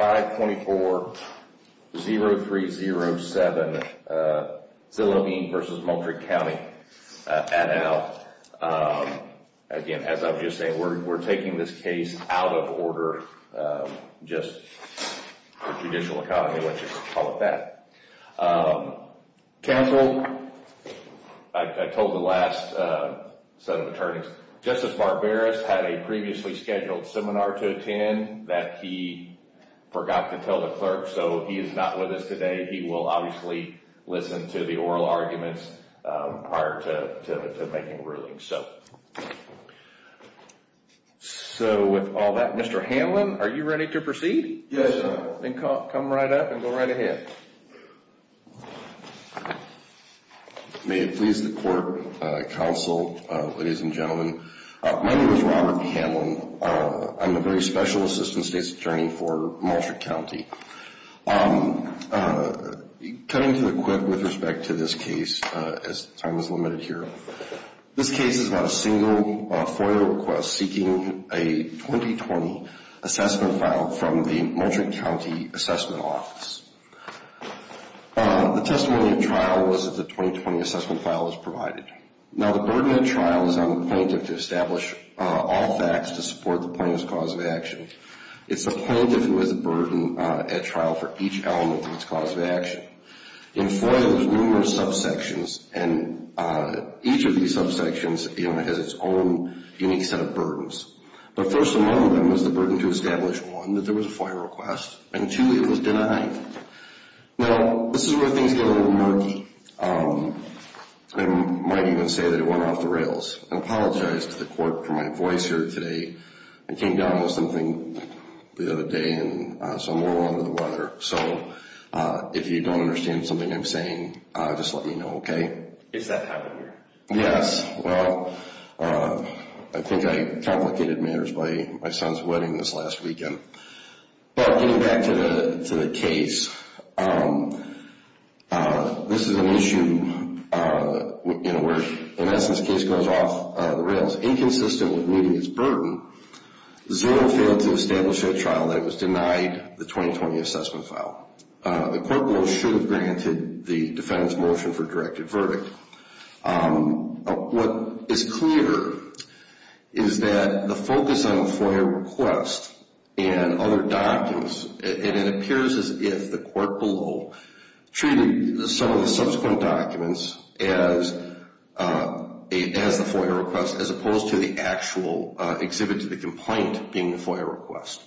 524-0307, Zillow Inc. v. Moultrie County, at an L. Again, as I was just saying, we're taking this case out of order, just the judicial economy, let's just call it that. Counsel, I told the last set of attorneys, Justice Barberis had a previously scheduled seminar to attend that he forgot to tell the clerk, so he is not with us today. He will obviously listen to the oral arguments prior to making a ruling. So with all that, Mr. Hanlon, are you ready to proceed? Yes, sir. Then come right up and go right ahead. May it please the court, counsel, ladies and gentlemen, my name is Robert Hanlon. I'm a very special assistant state's attorney for Moultrie County. Cutting to the quick with respect to this case, as time is limited here, this case is about a single FOIA request seeking a 2020 assessment file from the Moultrie County Assessment Office. The testimony of trial was that the 2020 assessment file was provided. Now, the burden of trial is on the plaintiff to establish all facts to support the plaintiff's cause of action. It's the plaintiff who has a burden at trial for each element of its cause of action. In FOIA, there's numerous subsections, and each of these subsections has its own unique set of burdens. The first among them is the burden to establish, one, that there was a FOIA request, and two, it was denied. Now, this is where things get a little murky. I might even say that it went off the rails. I apologize to the court for my voice here today. I came down with something the other day, and so I'm a little under the weather. So, if you don't understand something I'm saying, just let me know, okay? Is that how it works? Yes. Well, I think I complicated matters by my son's wedding this last weekend. But, getting back to the case, this is an issue where, in essence, the case goes off the rails. Inconsistent with meeting its burden, Zero failed to establish a trial that was denied the 2020 assessment file. The court rules should have granted the defendant's motion for directed verdict. What is clear is that the focus on a FOIA request and other documents, it appears as if the court below treated some of the subsequent documents as the FOIA request, as opposed to the actual exhibit to the complaint being the FOIA request.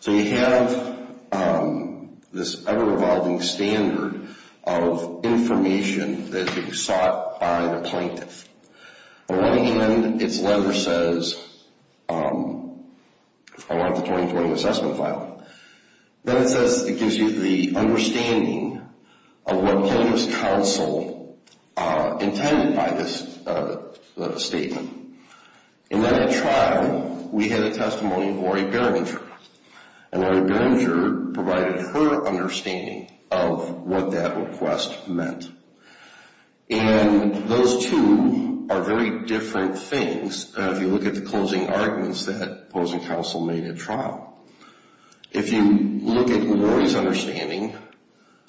So, you have this ever-evolving standard of information that is sought by the plaintiff. On one hand, its letter says, I want the 2020 assessment file. Then it says, it gives you the understanding of what plaintiff's counsel intended by this statement. In that trial, we had a testimony of Lori Berringer. And Lori Berringer provided her understanding of what that request meant. And those two are very different things if you look at the closing arguments that opposing counsel made at trial. If you look at Lori's understanding,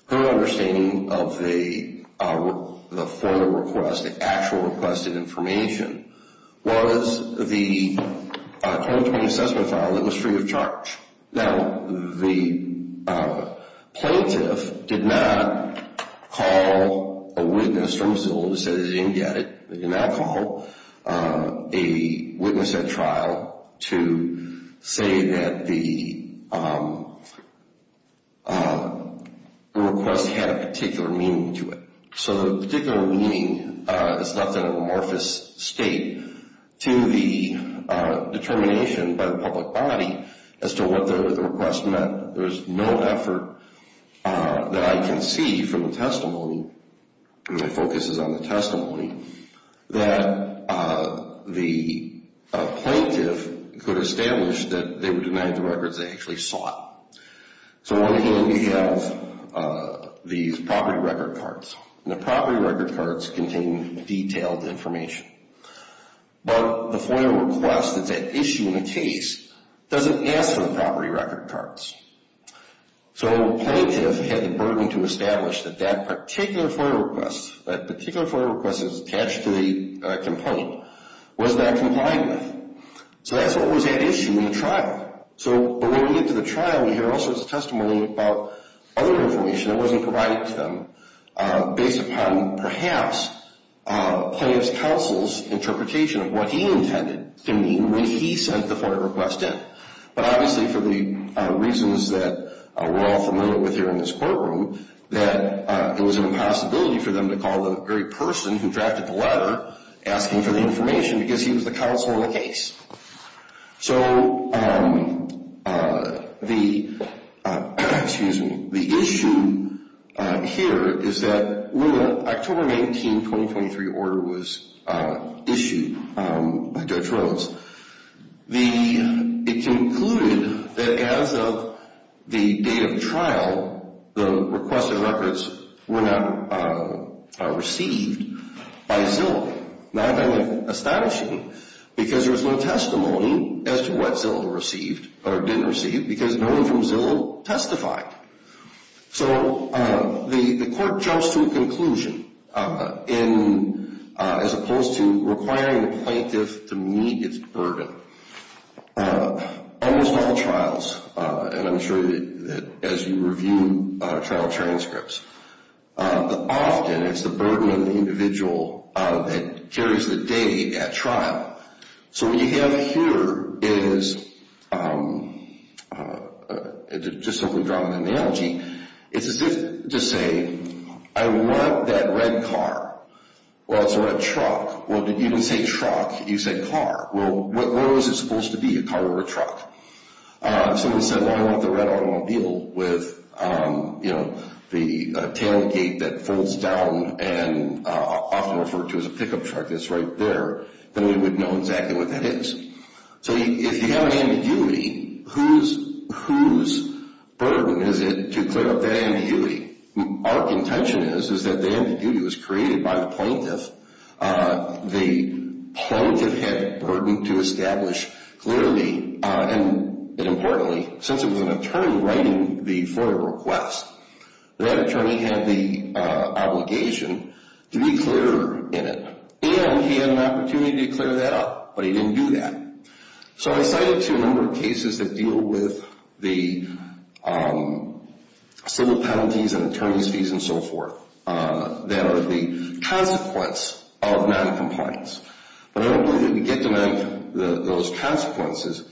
her understanding of the FOIA request, the actual requested information, was the 2020 assessment file that was free of charge. Now, the plaintiff did not call a witness from Zillow who said they didn't get it. They did not call a witness at trial to say that the request had a particular meaning to it. So, the particular meaning is left in an amorphous state to the determination by the public body as to what the request meant. There is no effort that I can see from the testimony, my focus is on the testimony, that the plaintiff could establish that they were denied the records they actually sought. So, we have these property record cards. And the property record cards contain detailed information. But the FOIA request that's at issue in the case doesn't ask for the property record cards. So, the plaintiff had the burden to establish that that particular FOIA request, that particular FOIA request that was attached to the complaint, was not complying with. So, that's what was at issue in the trial. So, when we get to the trial, we hear all sorts of testimony about other information that wasn't provided to them based upon, perhaps, the plaintiff's counsel's interpretation of what he intended to mean when he sent the FOIA request in. But obviously, for the reasons that we're all familiar with here in this courtroom, that it was an impossibility for them to call the very person who drafted the letter asking for the information because he was the counsel in the case. So, the issue here is that when the October 19, 2023 order was issued by Judge Rhodes, it concluded that as of the day of trial, the requested records were not received by Zilk. Now, I find that astonishing because there was no testimony as to what Zilk received or didn't receive because no one from Zilk testified. So, the court jumps to a conclusion as opposed to requiring the plaintiff to meet its burden. Almost all trials, and I'm sure that as you review trial transcripts, often it's the burden of the individual that carries the day at trial. So, what you have here is, just so we've drawn an analogy, it's as if to say, I want that red car, well, it's a red truck. Well, you didn't say truck, you said car. Well, what was it supposed to be, a car or a truck? Someone said, well, I want the red automobile with the tailgate that folds down and often referred to as a pickup truck that's right there. Then we would know exactly what that is. So, if you have an ambiguity, whose burden is it to clear up that ambiguity? Our intention is that the ambiguity was created by the plaintiff. The plaintiff had a burden to establish clearly and importantly, since it was an attorney writing the FOIA request, that attorney had the obligation to be clearer in it. And he had an opportunity to clear that up, but he didn't do that. So, I cited a number of cases that deal with the civil penalties and attorney's fees and so forth that are the consequence of noncompliance. But I don't believe we can get to those consequences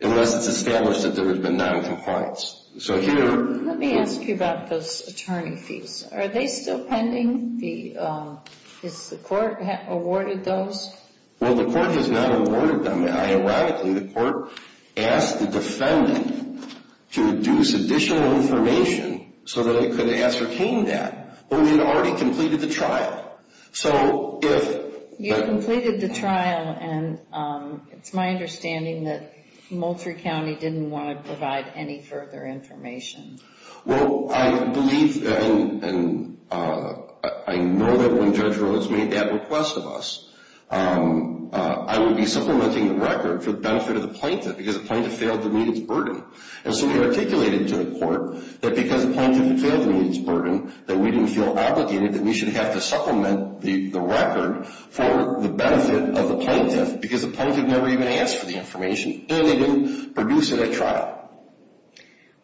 unless it's established that there has been noncompliance. So, here... Let me ask you about those attorney fees. Are they still pending? Has the court awarded those? Well, the court has not awarded them. Ironically, the court asked the defendant to deduce additional information so that it could ascertain that. But we had already completed the trial. So, if... You completed the trial and it's my understanding that Moultrie County didn't want to provide any further information. Well, I believe and I know that when Judge Rhodes made that request of us, I would be supplementing the record for the benefit of the plaintiff because the plaintiff failed to meet its burden. And so, we articulated to the court that because the plaintiff failed to meet its burden that we didn't feel obligated that we should have to supplement the record for the benefit of the plaintiff because the plaintiff never even asked for the information and they didn't produce it at trial.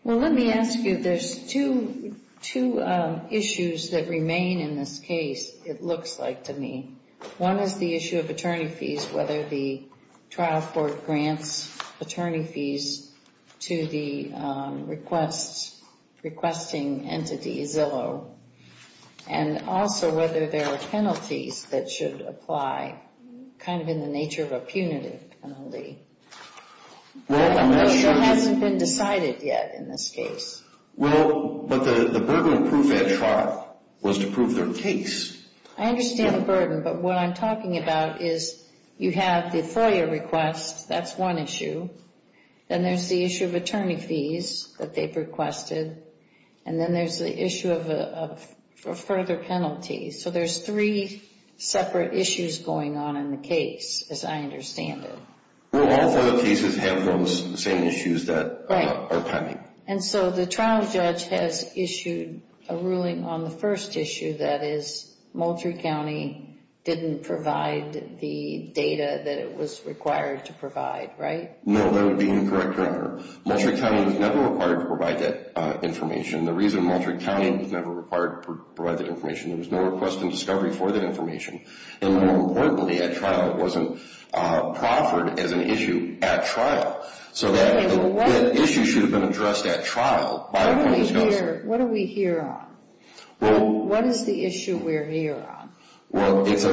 Well, let me ask you. There's two issues that remain in this case, it looks like to me. One is the issue of attorney fees whether the trial court grants attorney fees to the requesting entity, Zillow, and also whether there are penalties that should apply kind of in the nature of a punitive penalty. Well, I'm not sure... It hasn't been decided yet in this case. Well, but the burden of proof at trial was to prove their case. I understand the burden, but what I'm talking about is you have the FOIA request. That's one issue. Then there's the issue of attorney fees that they've requested. And then there's the issue of further penalties. So, there's three separate issues going on in the case as I understand it. Well, all FOIA cases have those same issues that are pending. And so, the trial judge has issued a ruling on the first issue that is Moultrie County didn't provide the data that it was required to provide, right? No, that would be incorrect, Your Honor. Moultrie County was never required to provide that information. The reason Moultrie County was never required to provide that information, there was no request and discovery for that information. And more importantly, at trial, it wasn't proffered as an issue at trial. So, that issue should have been addressed at trial by a court discloser. What are we here on? Well... What is the issue we're here on? Well, it's a...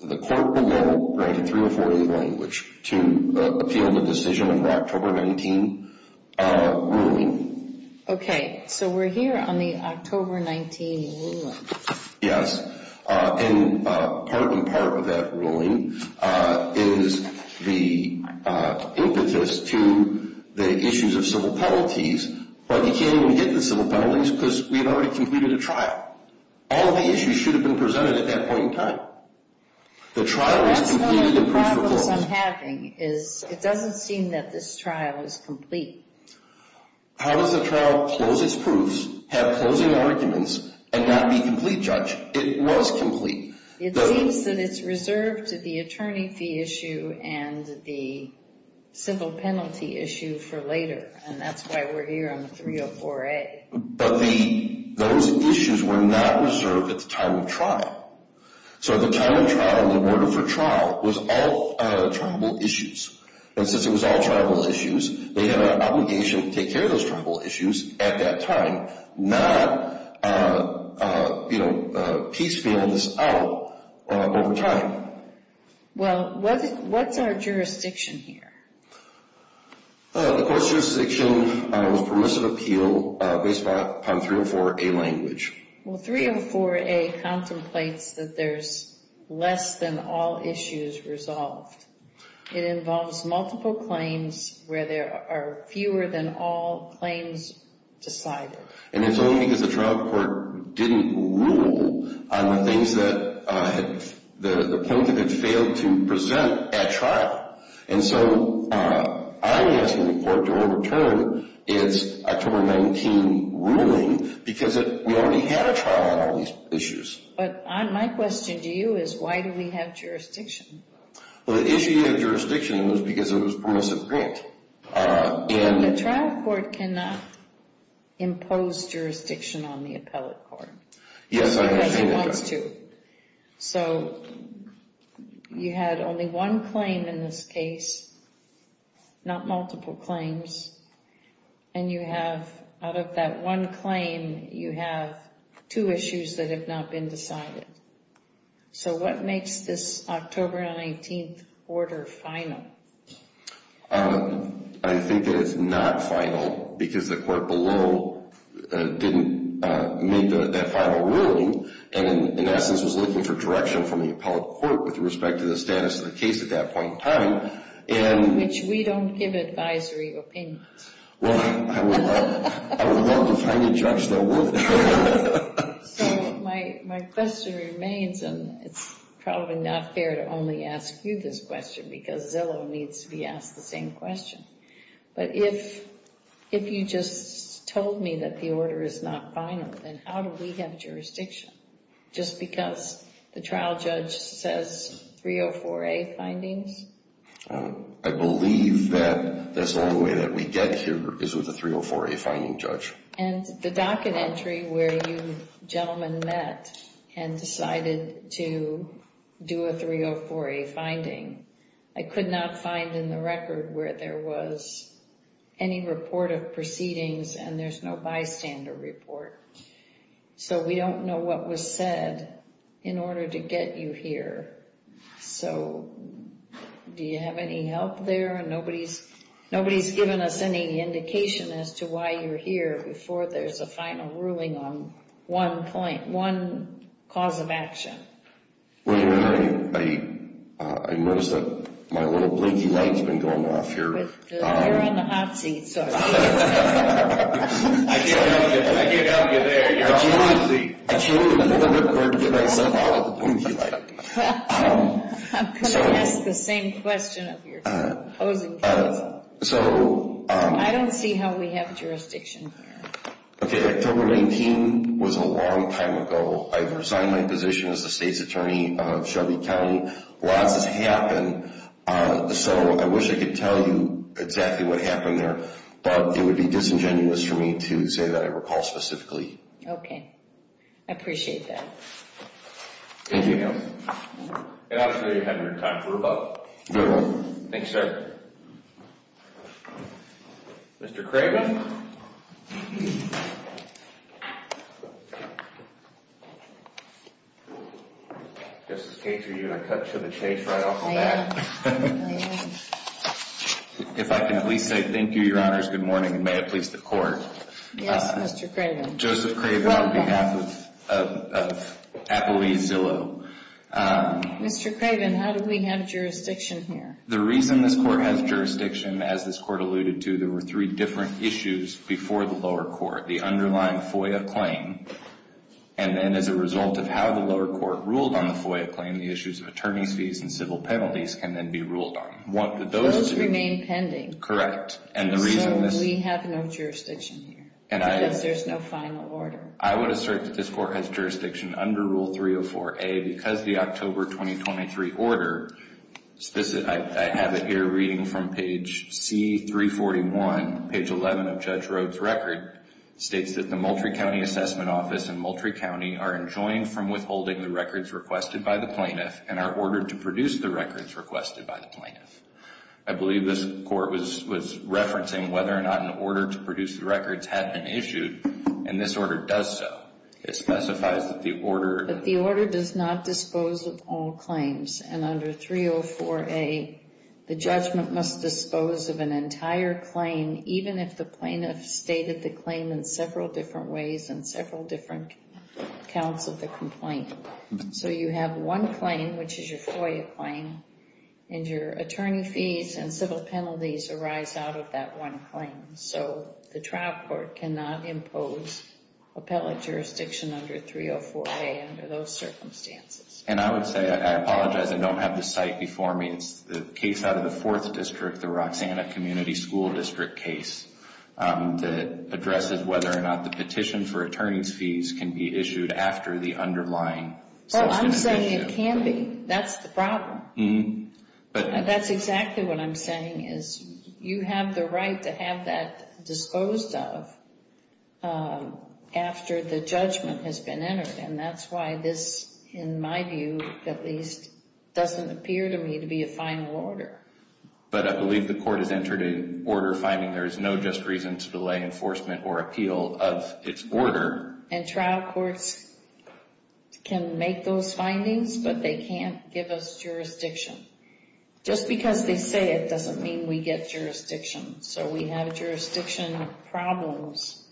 The court will go right to 3041, which to appeal the decision under October 19 ruling. Okay. So, we're here on the October 19 ruling. Yes. And part and part of that ruling is the impetus to the issues of civil penalties. But you can't even get the civil penalties because we've already completed a trial. All of the issues should have been presented at that point in time. The trial was completed... That's one of the problems I'm having is it doesn't seem that this trial is complete. How does the trial close its proofs, have closing arguments, and not be complete, Judge? It was complete. It seems that it's reserved to the attorney fee issue and the civil penalty issue for later. And that's why we're here on 304A. But those issues were not reserved at the time of trial. So, the time of trial and the order for trial was all tribal issues. And since it was all tribal issues, they had an obligation to take care of those tribal issues at that time, not piecemeal this out over time. Well, what's our jurisdiction here? The court's jurisdiction was permissive appeal based upon 304A language. Well, 304A contemplates that there's less than all issues resolved. It involves multiple claims where there are fewer than all claims decided. And it's only because the trial court didn't rule on the things that the plaintiff had failed to present at trial. And so, I'm asking the court to overturn its October 19 ruling because we already had a trial on all these issues. But my question to you is why do we have jurisdiction? Well, the issue of jurisdiction was because it was permissive grant. But the trial court cannot impose jurisdiction on the appellate court. Yes, I understand that. Because it wants to. So, you had only one claim in this case, not multiple claims, and you have out of that one claim you have two issues that have not been decided. So, what makes this October 19 order final? I think that it's not final because the court below didn't make that final ruling and in essence was looking for direction from the appellate court with respect to the status of the case at that point in time. Which we don't give advisory opinions. Well, I would love to find a judge that would. So, my question remains and it's probably not fair to only ask you this question because Zillow needs to be asked the same question. But if you just told me that the order is not final then how do we have jurisdiction? Just because the trial judge says 304A findings? I believe that that's the only way that we get here is with a 304A finding judge. And the docket entry where you gentlemen met and decided to do a 304A finding I could not find in the record where there was any report of proceedings and there's no bystander report. So we don't know what was said in order to get you here. So, do you have any help there? Nobody's given us any indication as to why you're here before there's a final ruling on one cause of action. I noticed that my little blinking light has been going off here. You're on the hot seat. I can't help you. I can't help you there. You're on the hot seat. I can't help you. I'm going to ask the same question of your opposing counsel. I don't see how we have jurisdiction here. October 19 was a long time ago. I resigned my position as the state's attorney of Shelby County. Lots has happened. So I wish I could tell you exactly what happened there. But it would be disingenuous for me to say that I recall specifically. Okay. I appreciate that. Thank you. And obviously you're having a good time. Thank you, sir. Mr. Craven? Just in case, are you going to cut to the chase right off the bat? I am. If I can at least say thank you, Your Honors, good morning, and may it please the Court. Yes, Mr. Craven. Joseph Craven on behalf of Appaloozie Zillow. Mr. Craven, how do we have jurisdiction here? The reason this Court has jurisdiction, as this Court alluded to, there were three different issues before the lower court. The underlying FOIA claim and then as a result of how the lower court ruled on the FOIA claim, the issues of attorney's fees and civil penalties can then be ruled on. Those remain pending. So we have no jurisdiction here. Because there's no final order. I would assert that this Court has jurisdiction under Rule 304A because the October 2023 order I have it here reading from page C341, page 11 of Judge Rhoades' record states that the Moultrie County Assessment Office in Moultrie County are enjoined from withholding the records requested by the plaintiff and are ordered to produce the records requested by the plaintiff. I believe this Court was referencing whether or not an order to produce the records had been issued and this order does so. It specifies that the order does not dispose of all claims and under 304A the judgment must dispose of an entire claim even if the plaintiff stated the claim in several different ways and several different counts of the complaint. So you have one claim, which is your FOIA claim and your attorney fees and civil penalties arise out of that one claim. So the trial court cannot impose appellate jurisdiction under 304A under those circumstances. And I would say, I apologize I don't have the site before me. It's the case out of the 4th District, the Roxanna Community School District case that addresses whether or not the petition for attorney's fees can be issued after the underlying civil penalty issue. Well, I'm saying it can be. That's the problem. That's exactly what I'm saying is you have the right to have that disclosed of after the judgment has been entered and that's why this in my view at least doesn't appear to me to be a final order. But I believe the Court has entered an order finding there is no unjust reason to delay enforcement or appeal of its order. And trial courts can make those findings but they can't give us jurisdiction. Just because they say it doesn't mean we get jurisdiction. So we have jurisdiction problems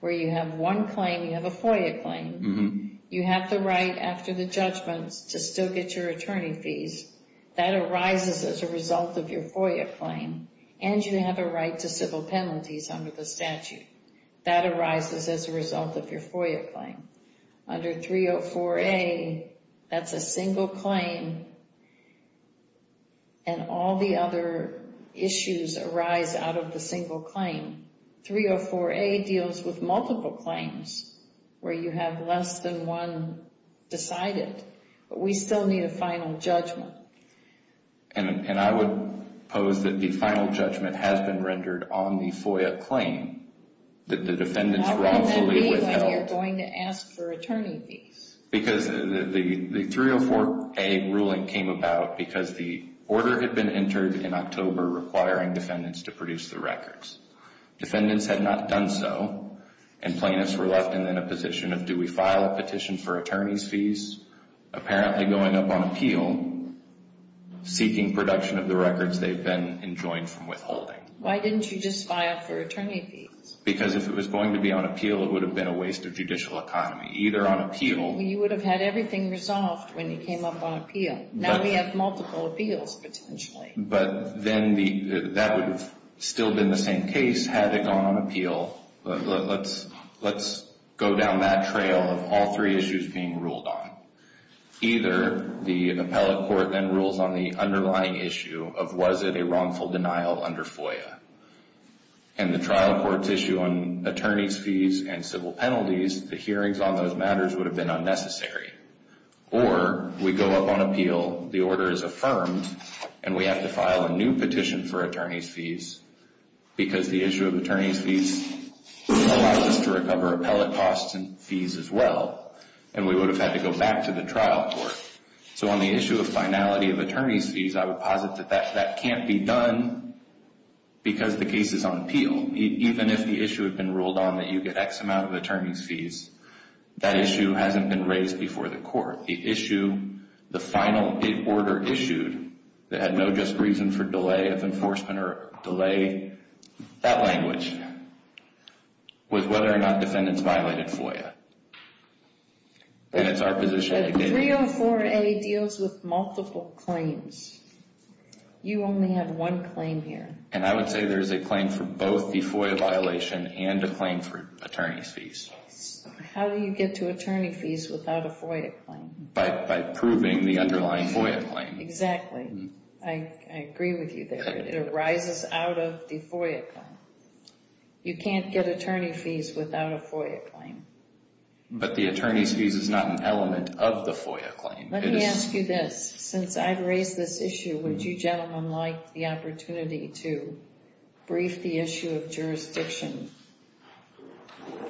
where you have one claim, you have a FOIA claim. You have the right after the judgment to still get your attorney fees. That arises as a result of your FOIA claim and you have a right to civil penalties under the statute. That arises as a result of your FOIA claim. Under 304A that's a single claim and all the other issues arise out of the single claim. 304A deals with multiple claims where you have less than one decided. But we still need a final judgment. And I would pose that the final judgment has been rendered on the FOIA claim that the defendants wrongfully withheld. Because the 304A ruling came about because the order had been entered in October requiring defendants to produce the records. Defendants had not done so and plaintiffs were left in a position of do we file a petition for attorney's fees? Apparently going up on appeal seeking production of the records they've been enjoying from withholding. Why didn't you just file for attorney fees? Because if it was going to be on appeal it would have been a waste of judicial economy. Either on appeal You would have had everything resolved when you came up on appeal. Now we have multiple appeals potentially. But then that would have still been the same case had it gone on appeal. Let's go down that trail of all three issues being ruled on. Either the appellate court then rules on the underlying issue of was it a wrongful denial under FOIA? And the trial court's issue on attorney's fees and civil penalties the hearings on those matters would have been unnecessary. Or we go up on appeal, the order is affirmed, and we have to file a new petition for attorney's fees because the issue of attorney's fees allows us to cover appellate costs and fees as well. And we would have had to go back to the trial court. So on the issue of finality of attorney's fees I would posit that that can't be done because the case is on appeal. Even if the issue had been ruled on that you get X amount of attorney's fees that issue hasn't been raised before the court. The issue the final order issued that had no just reason for delay of enforcement or delay that language was whether or not defendants violated FOIA. And it's our position that... A 304A deals with multiple claims. You only have one claim here. And I would say there is a claim for both the FOIA violation and a claim for attorney's fees. How do you get to attorney fees without a FOIA claim? By proving the underlying FOIA claim. Exactly. I agree with you there. It arises out of the FOIA claim. You can't get attorney fees without a FOIA claim. But the attorney's fees is not an element of the FOIA claim. Let me ask you this. Since I've raised this issue would you gentlemen like the opportunity to brief the issue of jurisdiction?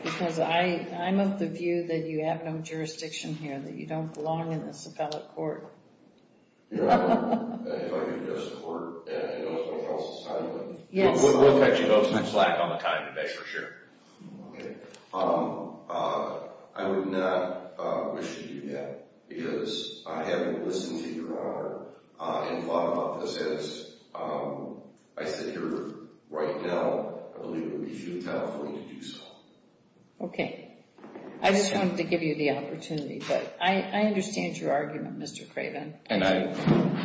Because I'm of the view that you have no jurisdiction here. That you don't belong in this appellate court. If I can just support and also tell society we'll cut you both some slack on the time debate for sure. I would not wish to do that because I haven't listened to your honor and thought about this as I sit here right now I believe it would be futile for me to do so. Okay. I just wanted to give you the opportunity but I understand your argument Mr. Craven.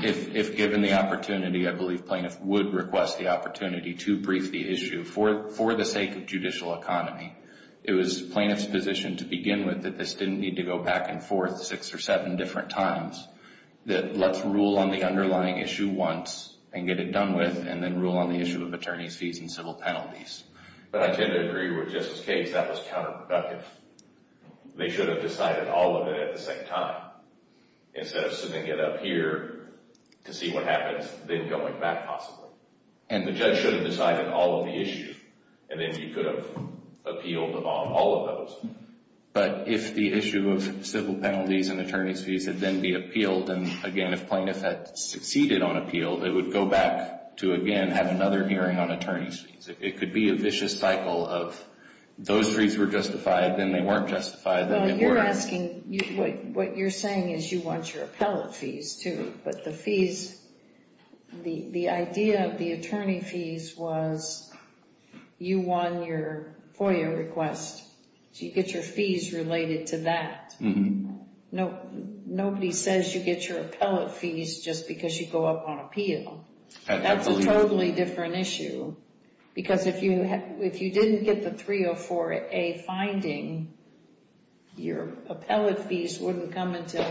If given the opportunity I believe plaintiff would request the opportunity to brief the issue for the sake of judicial economy. It was plaintiff's position to begin with that this didn't need to go back and forth six or seven different times that let's rule on the underlying issue once and get it done with and then rule on the issue of attorney's fees and civil penalties. But I tend to agree with Justice Cage that was counterproductive. They should have decided all of it at the same time instead of sitting it up here to see what happens then going back possibly. And the judge should have decided all of the issue and then you could have appealed on all of those. But if the issue of civil penalties and attorney's fees had then be appealed and again if plaintiff had succeeded on appeal they would go back to again have another hearing on attorney's fees. It could be a vicious cycle of those three were justified then they weren't justified then they What you're saying is you want your appellate fees too but the fees the idea of the attorney fees was you won your FOIA request so you get your fees related to that. Nobody says you get your appellate fees just because you go up on appeal. That's a totally different issue because if you didn't get the 304A finding your appellate fees wouldn't come until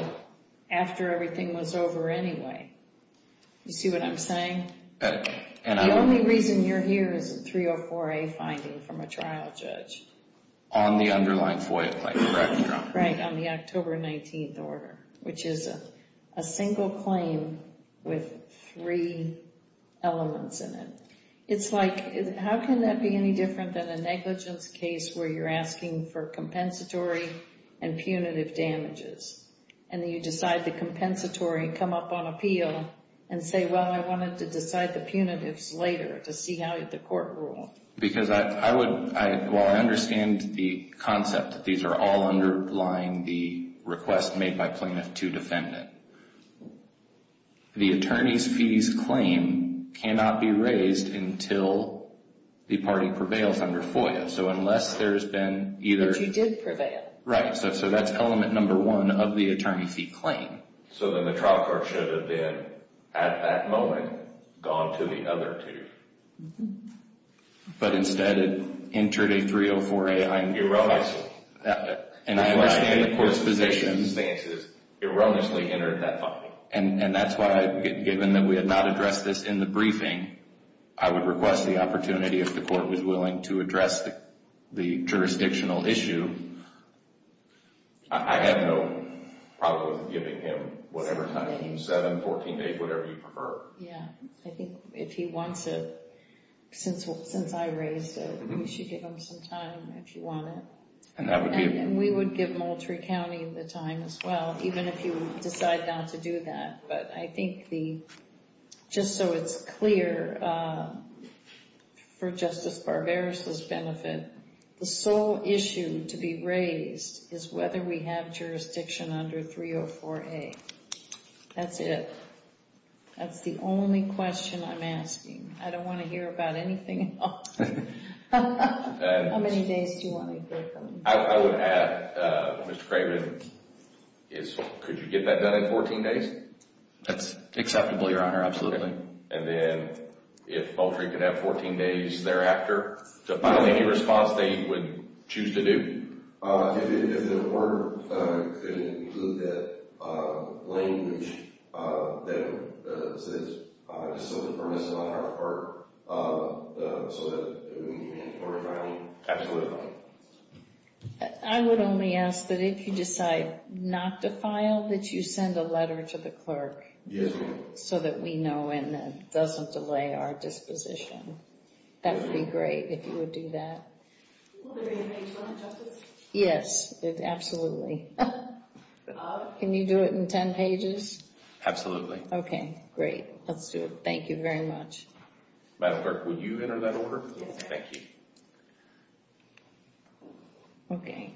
after everything was over anyway. You see what I'm saying? The only reason you're here is a 304A finding from a trial judge. On the underlying FOIA claim, correct? Right, on the October 19th order which is a single claim with three elements in it. It's like how can that be any different than a negligence case where you're asking for compensatory and punitive damages and then you decide the compensatory and come up on appeal and say well I wanted to decide the punitives later to see how the court ruled. Because I would, well I understand the concept that these are all underlying the request made by plaintiff to defendant. The attorney's fees claim cannot be raised until the party prevails under FOIA. So unless there's been either. But you did prevail. Right. So that's element number one of the attorney fee claim. So then the trial court should have been at that moment gone to the other two. But instead it entered a 304A I'm. Erroneously. And I understand the court's position. Erroneously entered that finding. And that's why given that we had not addressed this in the briefing, I would request the opportunity if the court was willing to address the jurisdictional issue. I have no problem with giving him whatever time he's set in, 14 days, whatever you prefer. Yeah. I think if he wants it since I raised it, we should give him some time if you want it. And we would give Moultrie County the time as well, even if you decide not to do that. But I think the, just so it's clear, for Justice Barbaros' benefit, the sole issue to be raised is whether we have jurisdiction under 304A. That's it. That's the only question I'm asking. I don't want to hear about anything else. How many days do you want to hear from him? I would add, Mr. Craven, could you get that done in 14 days? That's acceptable, Your Honor. Absolutely. And then, if Moultrie could have 14 days thereafter to file any response that you would choose to do? If the court could include that language that says it's sort of permissive on our part so that it would be mandatory filing. Absolutely. I would only ask that if you decide not to file, that you send a letter to the clerk so that we know and it doesn't delay our disposition. That would be great if you would do that. Will there be a page one, Justice? Yes. Absolutely. Can you do it in 10 pages? Absolutely. Okay. Great. Let's do it. Thank you very much. Madam Clerk, would you enter that order? Thank you. Okay.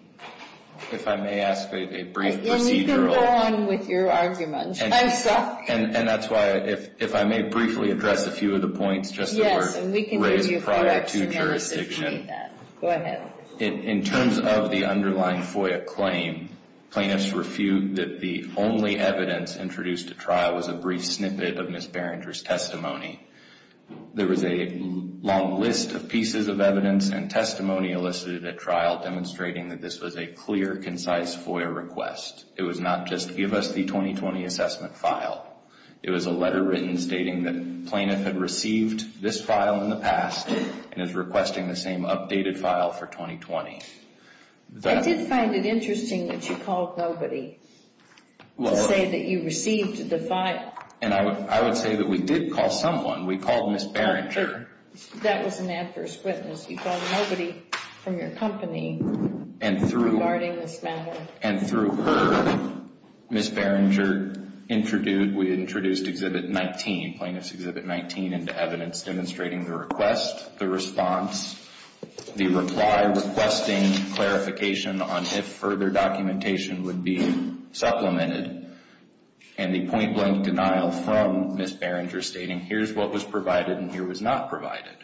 If I may ask a brief procedural... And you can go on with your argument. I'm stuck. And that's why, if I may briefly address a few of the points just that were raised prior to jurisdiction. Go ahead. In terms of the underlying FOIA claim, plaintiffs refute that the only evidence introduced to trial was a brief snippet of Ms. Berenger's testimony. There was a long list of pieces of evidence and testimony elicited at trial demonstrating that this was a clear, concise FOIA request. It was not just give us the 2020 assessment file. It was a letter written stating that plaintiff had received this file in the past and is requesting the same updated file for 2020. I did find it interesting that you called nobody to say that you received the file. And I would say that we did call someone. We called Ms. Berenger. That was an accurate witness. You called nobody from your company regarding this matter. And through her, Ms. Berenger introduced, we introduced Exhibit 19, Plaintiff's Exhibit 19, into evidence demonstrating the request, the response, the reply requesting clarification on if further documentation would be supplemented, and the point-blank denial from Ms. Berenger stating, here's what was provided and here was not provided.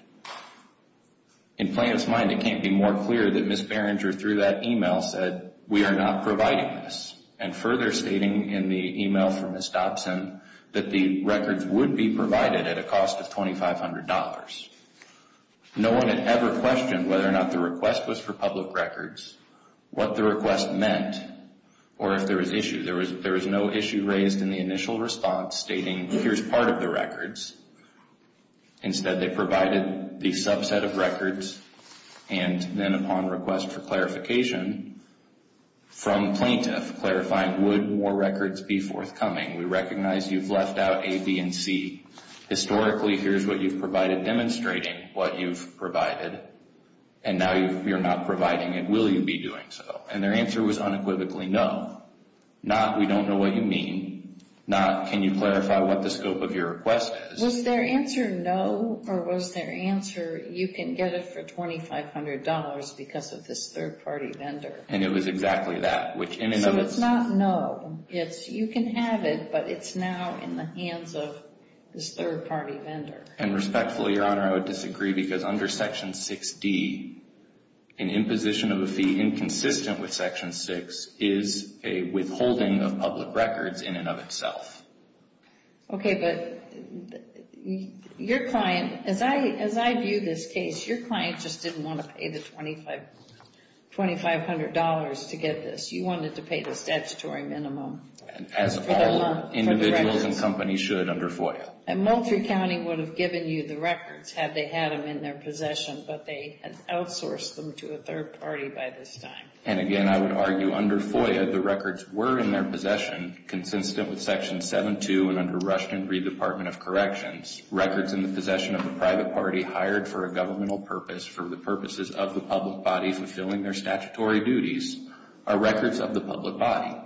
In plaintiff's mind, it can't be more clear that Ms. Berenger through that email said, we are not providing this. And further stating in the email from Ms. Dobson that the records would be provided at a cost of $2,500. No one had ever questioned whether or not the request was for public records, what the request meant, or if there was issue. There was no issue raised in the initial response stating, here's part of the records. Instead, they provided the subset of records, and then upon request for clarification from plaintiff clarifying, would more records be forthcoming? We recognize you've left out A, B, and C. Historically, here's what you've provided, demonstrating what you've provided, and now you're not providing it. Will you be doing so? And their answer was unequivocally, no. Not, we don't know what you mean. Not, can you clarify what the scope of your request is? Was their answer no, or was their answer you can get it for $2,500 because of this third-party vendor? And it was exactly that. So it's not no. You can have it, but it's now in the hands of this third-party vendor. And respectfully, Your Honor, I would disagree because under Section 6D, an imposition of a fee inconsistent with Section 6 is a withholding of public records in and of itself. Okay, but your client, as I view this case, your client just didn't want to pay the $2,500 to get this. You wanted to pay the statutory minimum for the records. As all individuals and companies should under FOIA. And Moultrie County would have given you the records had they had them in their possession, but they had outsourced them to a third party by this time. And again, I would argue under FOIA, the records were in their possession, consistent with Section 7-2 and under Rushden v. Department of Corrections. Records in the possession of a private party hired for a governmental purpose for the purposes of the public body fulfilling their statutory duties are records of the public body.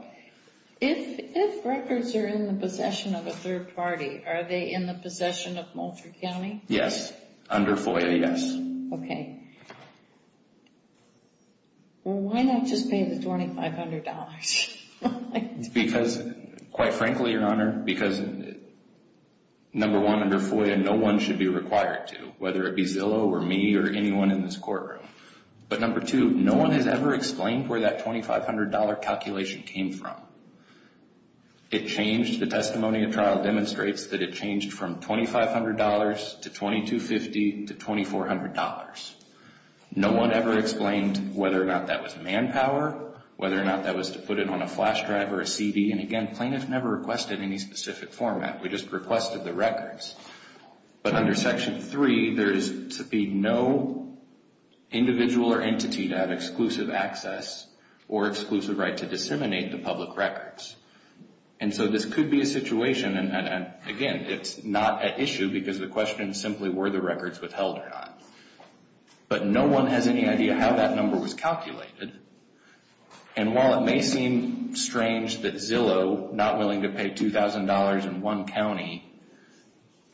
If records are in the possession of a third party, are they in the possession of Moultrie County? Yes. Under FOIA, yes. Okay. Well, why not just pay the $2,500? Because, quite frankly, Your Honor, because number one, under FOIA, no one should be required to, whether it be Zillow or me or anyone in this courtroom. But number two, no one has ever explained where that $2,500 calculation came from. It changed. The testimony of trial demonstrates that it changed from $2,500 to $2,250 to $2,400. No one ever explained whether or not that was manpower, whether or not that was to put it on a flash drive or a CD. And again, plaintiffs never requested any specific format. We just requested the records. But under Section 3, there is to be no individual or entity to have exclusive access or exclusive right to disseminate the public records. And so this could be a situation, and again, it's not an issue because the question is simply were the records withheld or not. But no one has any idea how that number was calculated. And while it may seem strange that Zillow, not willing to pay $2,000 in one county,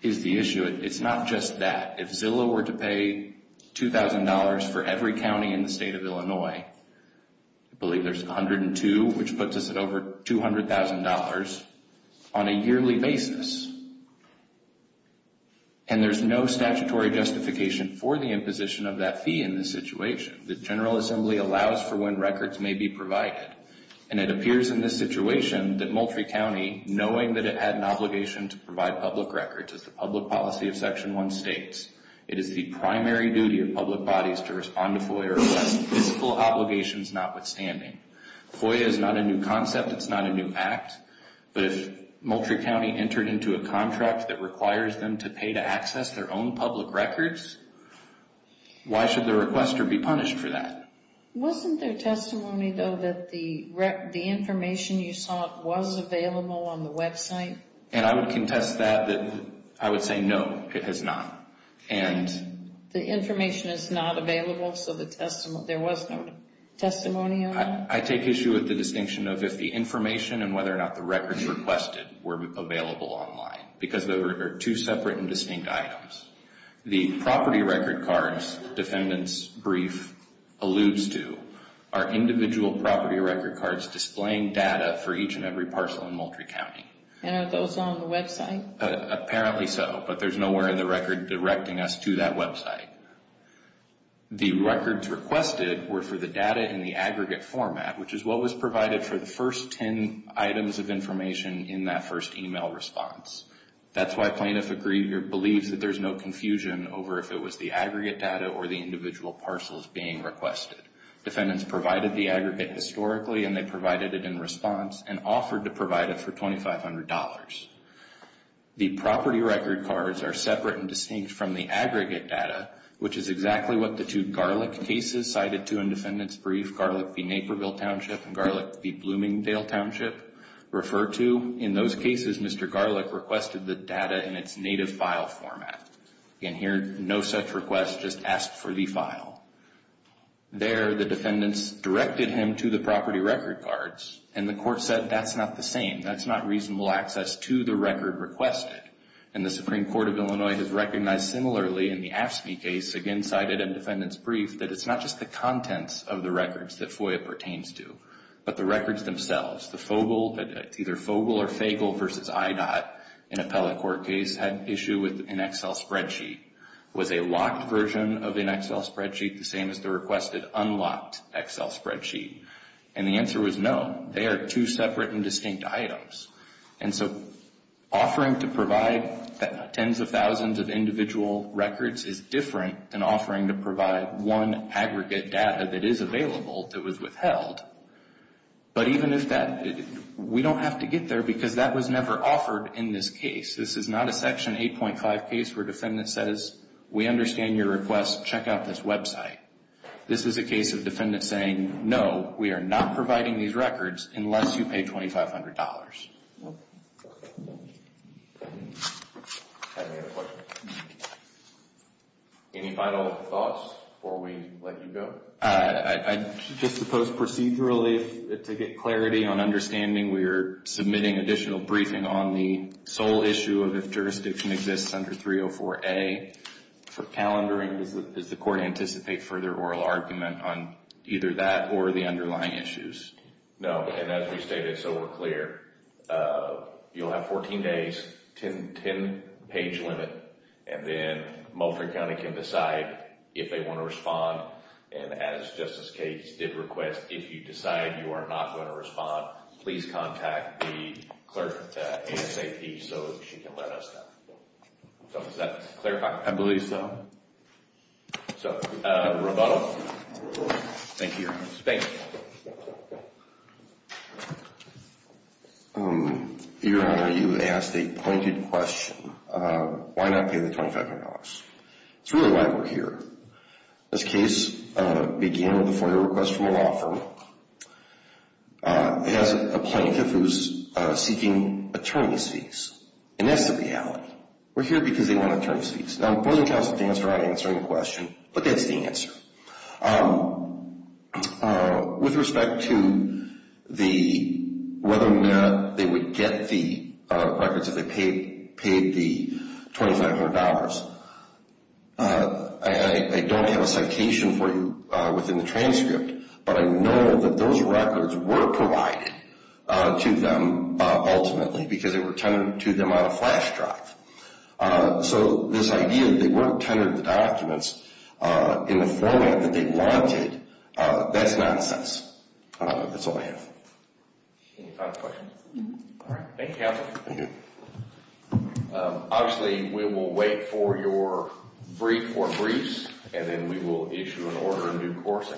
is the issue, it's not just that. If Zillow were to pay $2,000 for every county in the state of Illinois, I believe there's 102, which puts us at over $200,000 on a yearly basis. And there's no statutory justification for the imposition of that fee in this situation. The General Assembly allows for when records may be provided. And it appears in this situation that Moultrie County, knowing that it had an obligation to provide public records as the public policy of Section 1 states, it is the primary duty of public bodies to respond to FOIA or physical obligations notwithstanding. FOIA is not a new concept. It's not a new act. But if a county is required to do a contract that requires them to pay to access their own public records, why should the requester be punished for that? Wasn't there testimony, though, that the information you sought was available on the website? And I would contest that. I would say no, it has not. The information is not available so there was no testimony on that? I take issue with the distinction of if the information and whether or not the records requested were available online because they were two separate and distinct items. The property record cards defendant's brief alludes to are individual property record cards displaying data for each and every parcel in Moultrie County. And are those on the website? Apparently so, but there's nowhere in the record directing us to that website. The records requested were for the data in the aggregate format, which is what was provided for the first 10 items of information in that first email response. That's why plaintiff believes that there's no confusion over if it was the aggregate data or the individual parcels being requested. Defendants provided the aggregate historically and they provided it in response and offered to provide it for $2,500. The property record cards are separate and distinct from the aggregate data, which is exactly what the two garlic cases cited to in defendant's brief, Garlic v. Naperville Township and Garlic v. Bloomingdale Township refer to. In those cases, Mr. Garlic requested the data in its native file format. Again, here no such request, just ask for the file. There, the defendants directed him to the property record cards and the court said that's not the same. That's not reasonable access to the record requested. And the Supreme Court of Illinois has recognized similarly in the AFSCME case, again cited in defendant's brief, that it's not just the contents of the records that FOIA pertains to, but the records themselves. The Fogle, either Fogle or Fagle v. IDOT in appellate court case, had issue with an Excel spreadsheet. Was a locked version of an Excel spreadsheet the same as the requested unlocked Excel spreadsheet? And the answer was no. They are two separate and distinct items. And so, offering to provide tens of thousands of individual records is different than offering to provide one aggregate data that is available that was withheld. But even if that, we don't have to get there because that was never offered in this case. This is not a section 8.5 case where defendant says we understand your request, check out this website. This is a case of defendant saying no, we are not providing these records unless you pay $2,500. Any final thoughts before we let you go? I just suppose procedurally to get clarity on understanding we are submitting additional briefing on the sole issue of if jurisdiction exists under 304A for calendaring. Does the court anticipate further oral argument on either that or the underlying issues? No. And as we stated, so we're clear you'll have 14 days 10 page limit and then Mulford County can decide if they want to respond and as Justice Cates did request, if you decide you are not going to respond, please contact the clerk at ASAP so she can let us know. Does that clarify? I believe so. So, rebuttal? Thank you. Thank you. Your Honor, you asked a pointed question. Why not pay the $2,500? It's really why we're here. This case began with a FOIA request from a law firm that has a plaintiff who is seeking attorney's fees. And that's the reality. We're here because they want attorney's fees. Now, I'm willing to ask the answer without answering the question, but that's the answer. With respect to whether or not they would get the records if they paid the $2,500, I don't have a citation for you within the transcript, but I know that those records were provided to them ultimately because they were tended to them on a flash drive. So, this idea that they weren't tendered the documents in the format that they wanted, that's nonsense. That's all I have. Any final questions? Thank you, Counselor. Obviously, we will wait for your brief or briefs, and then we will issue an order of due course.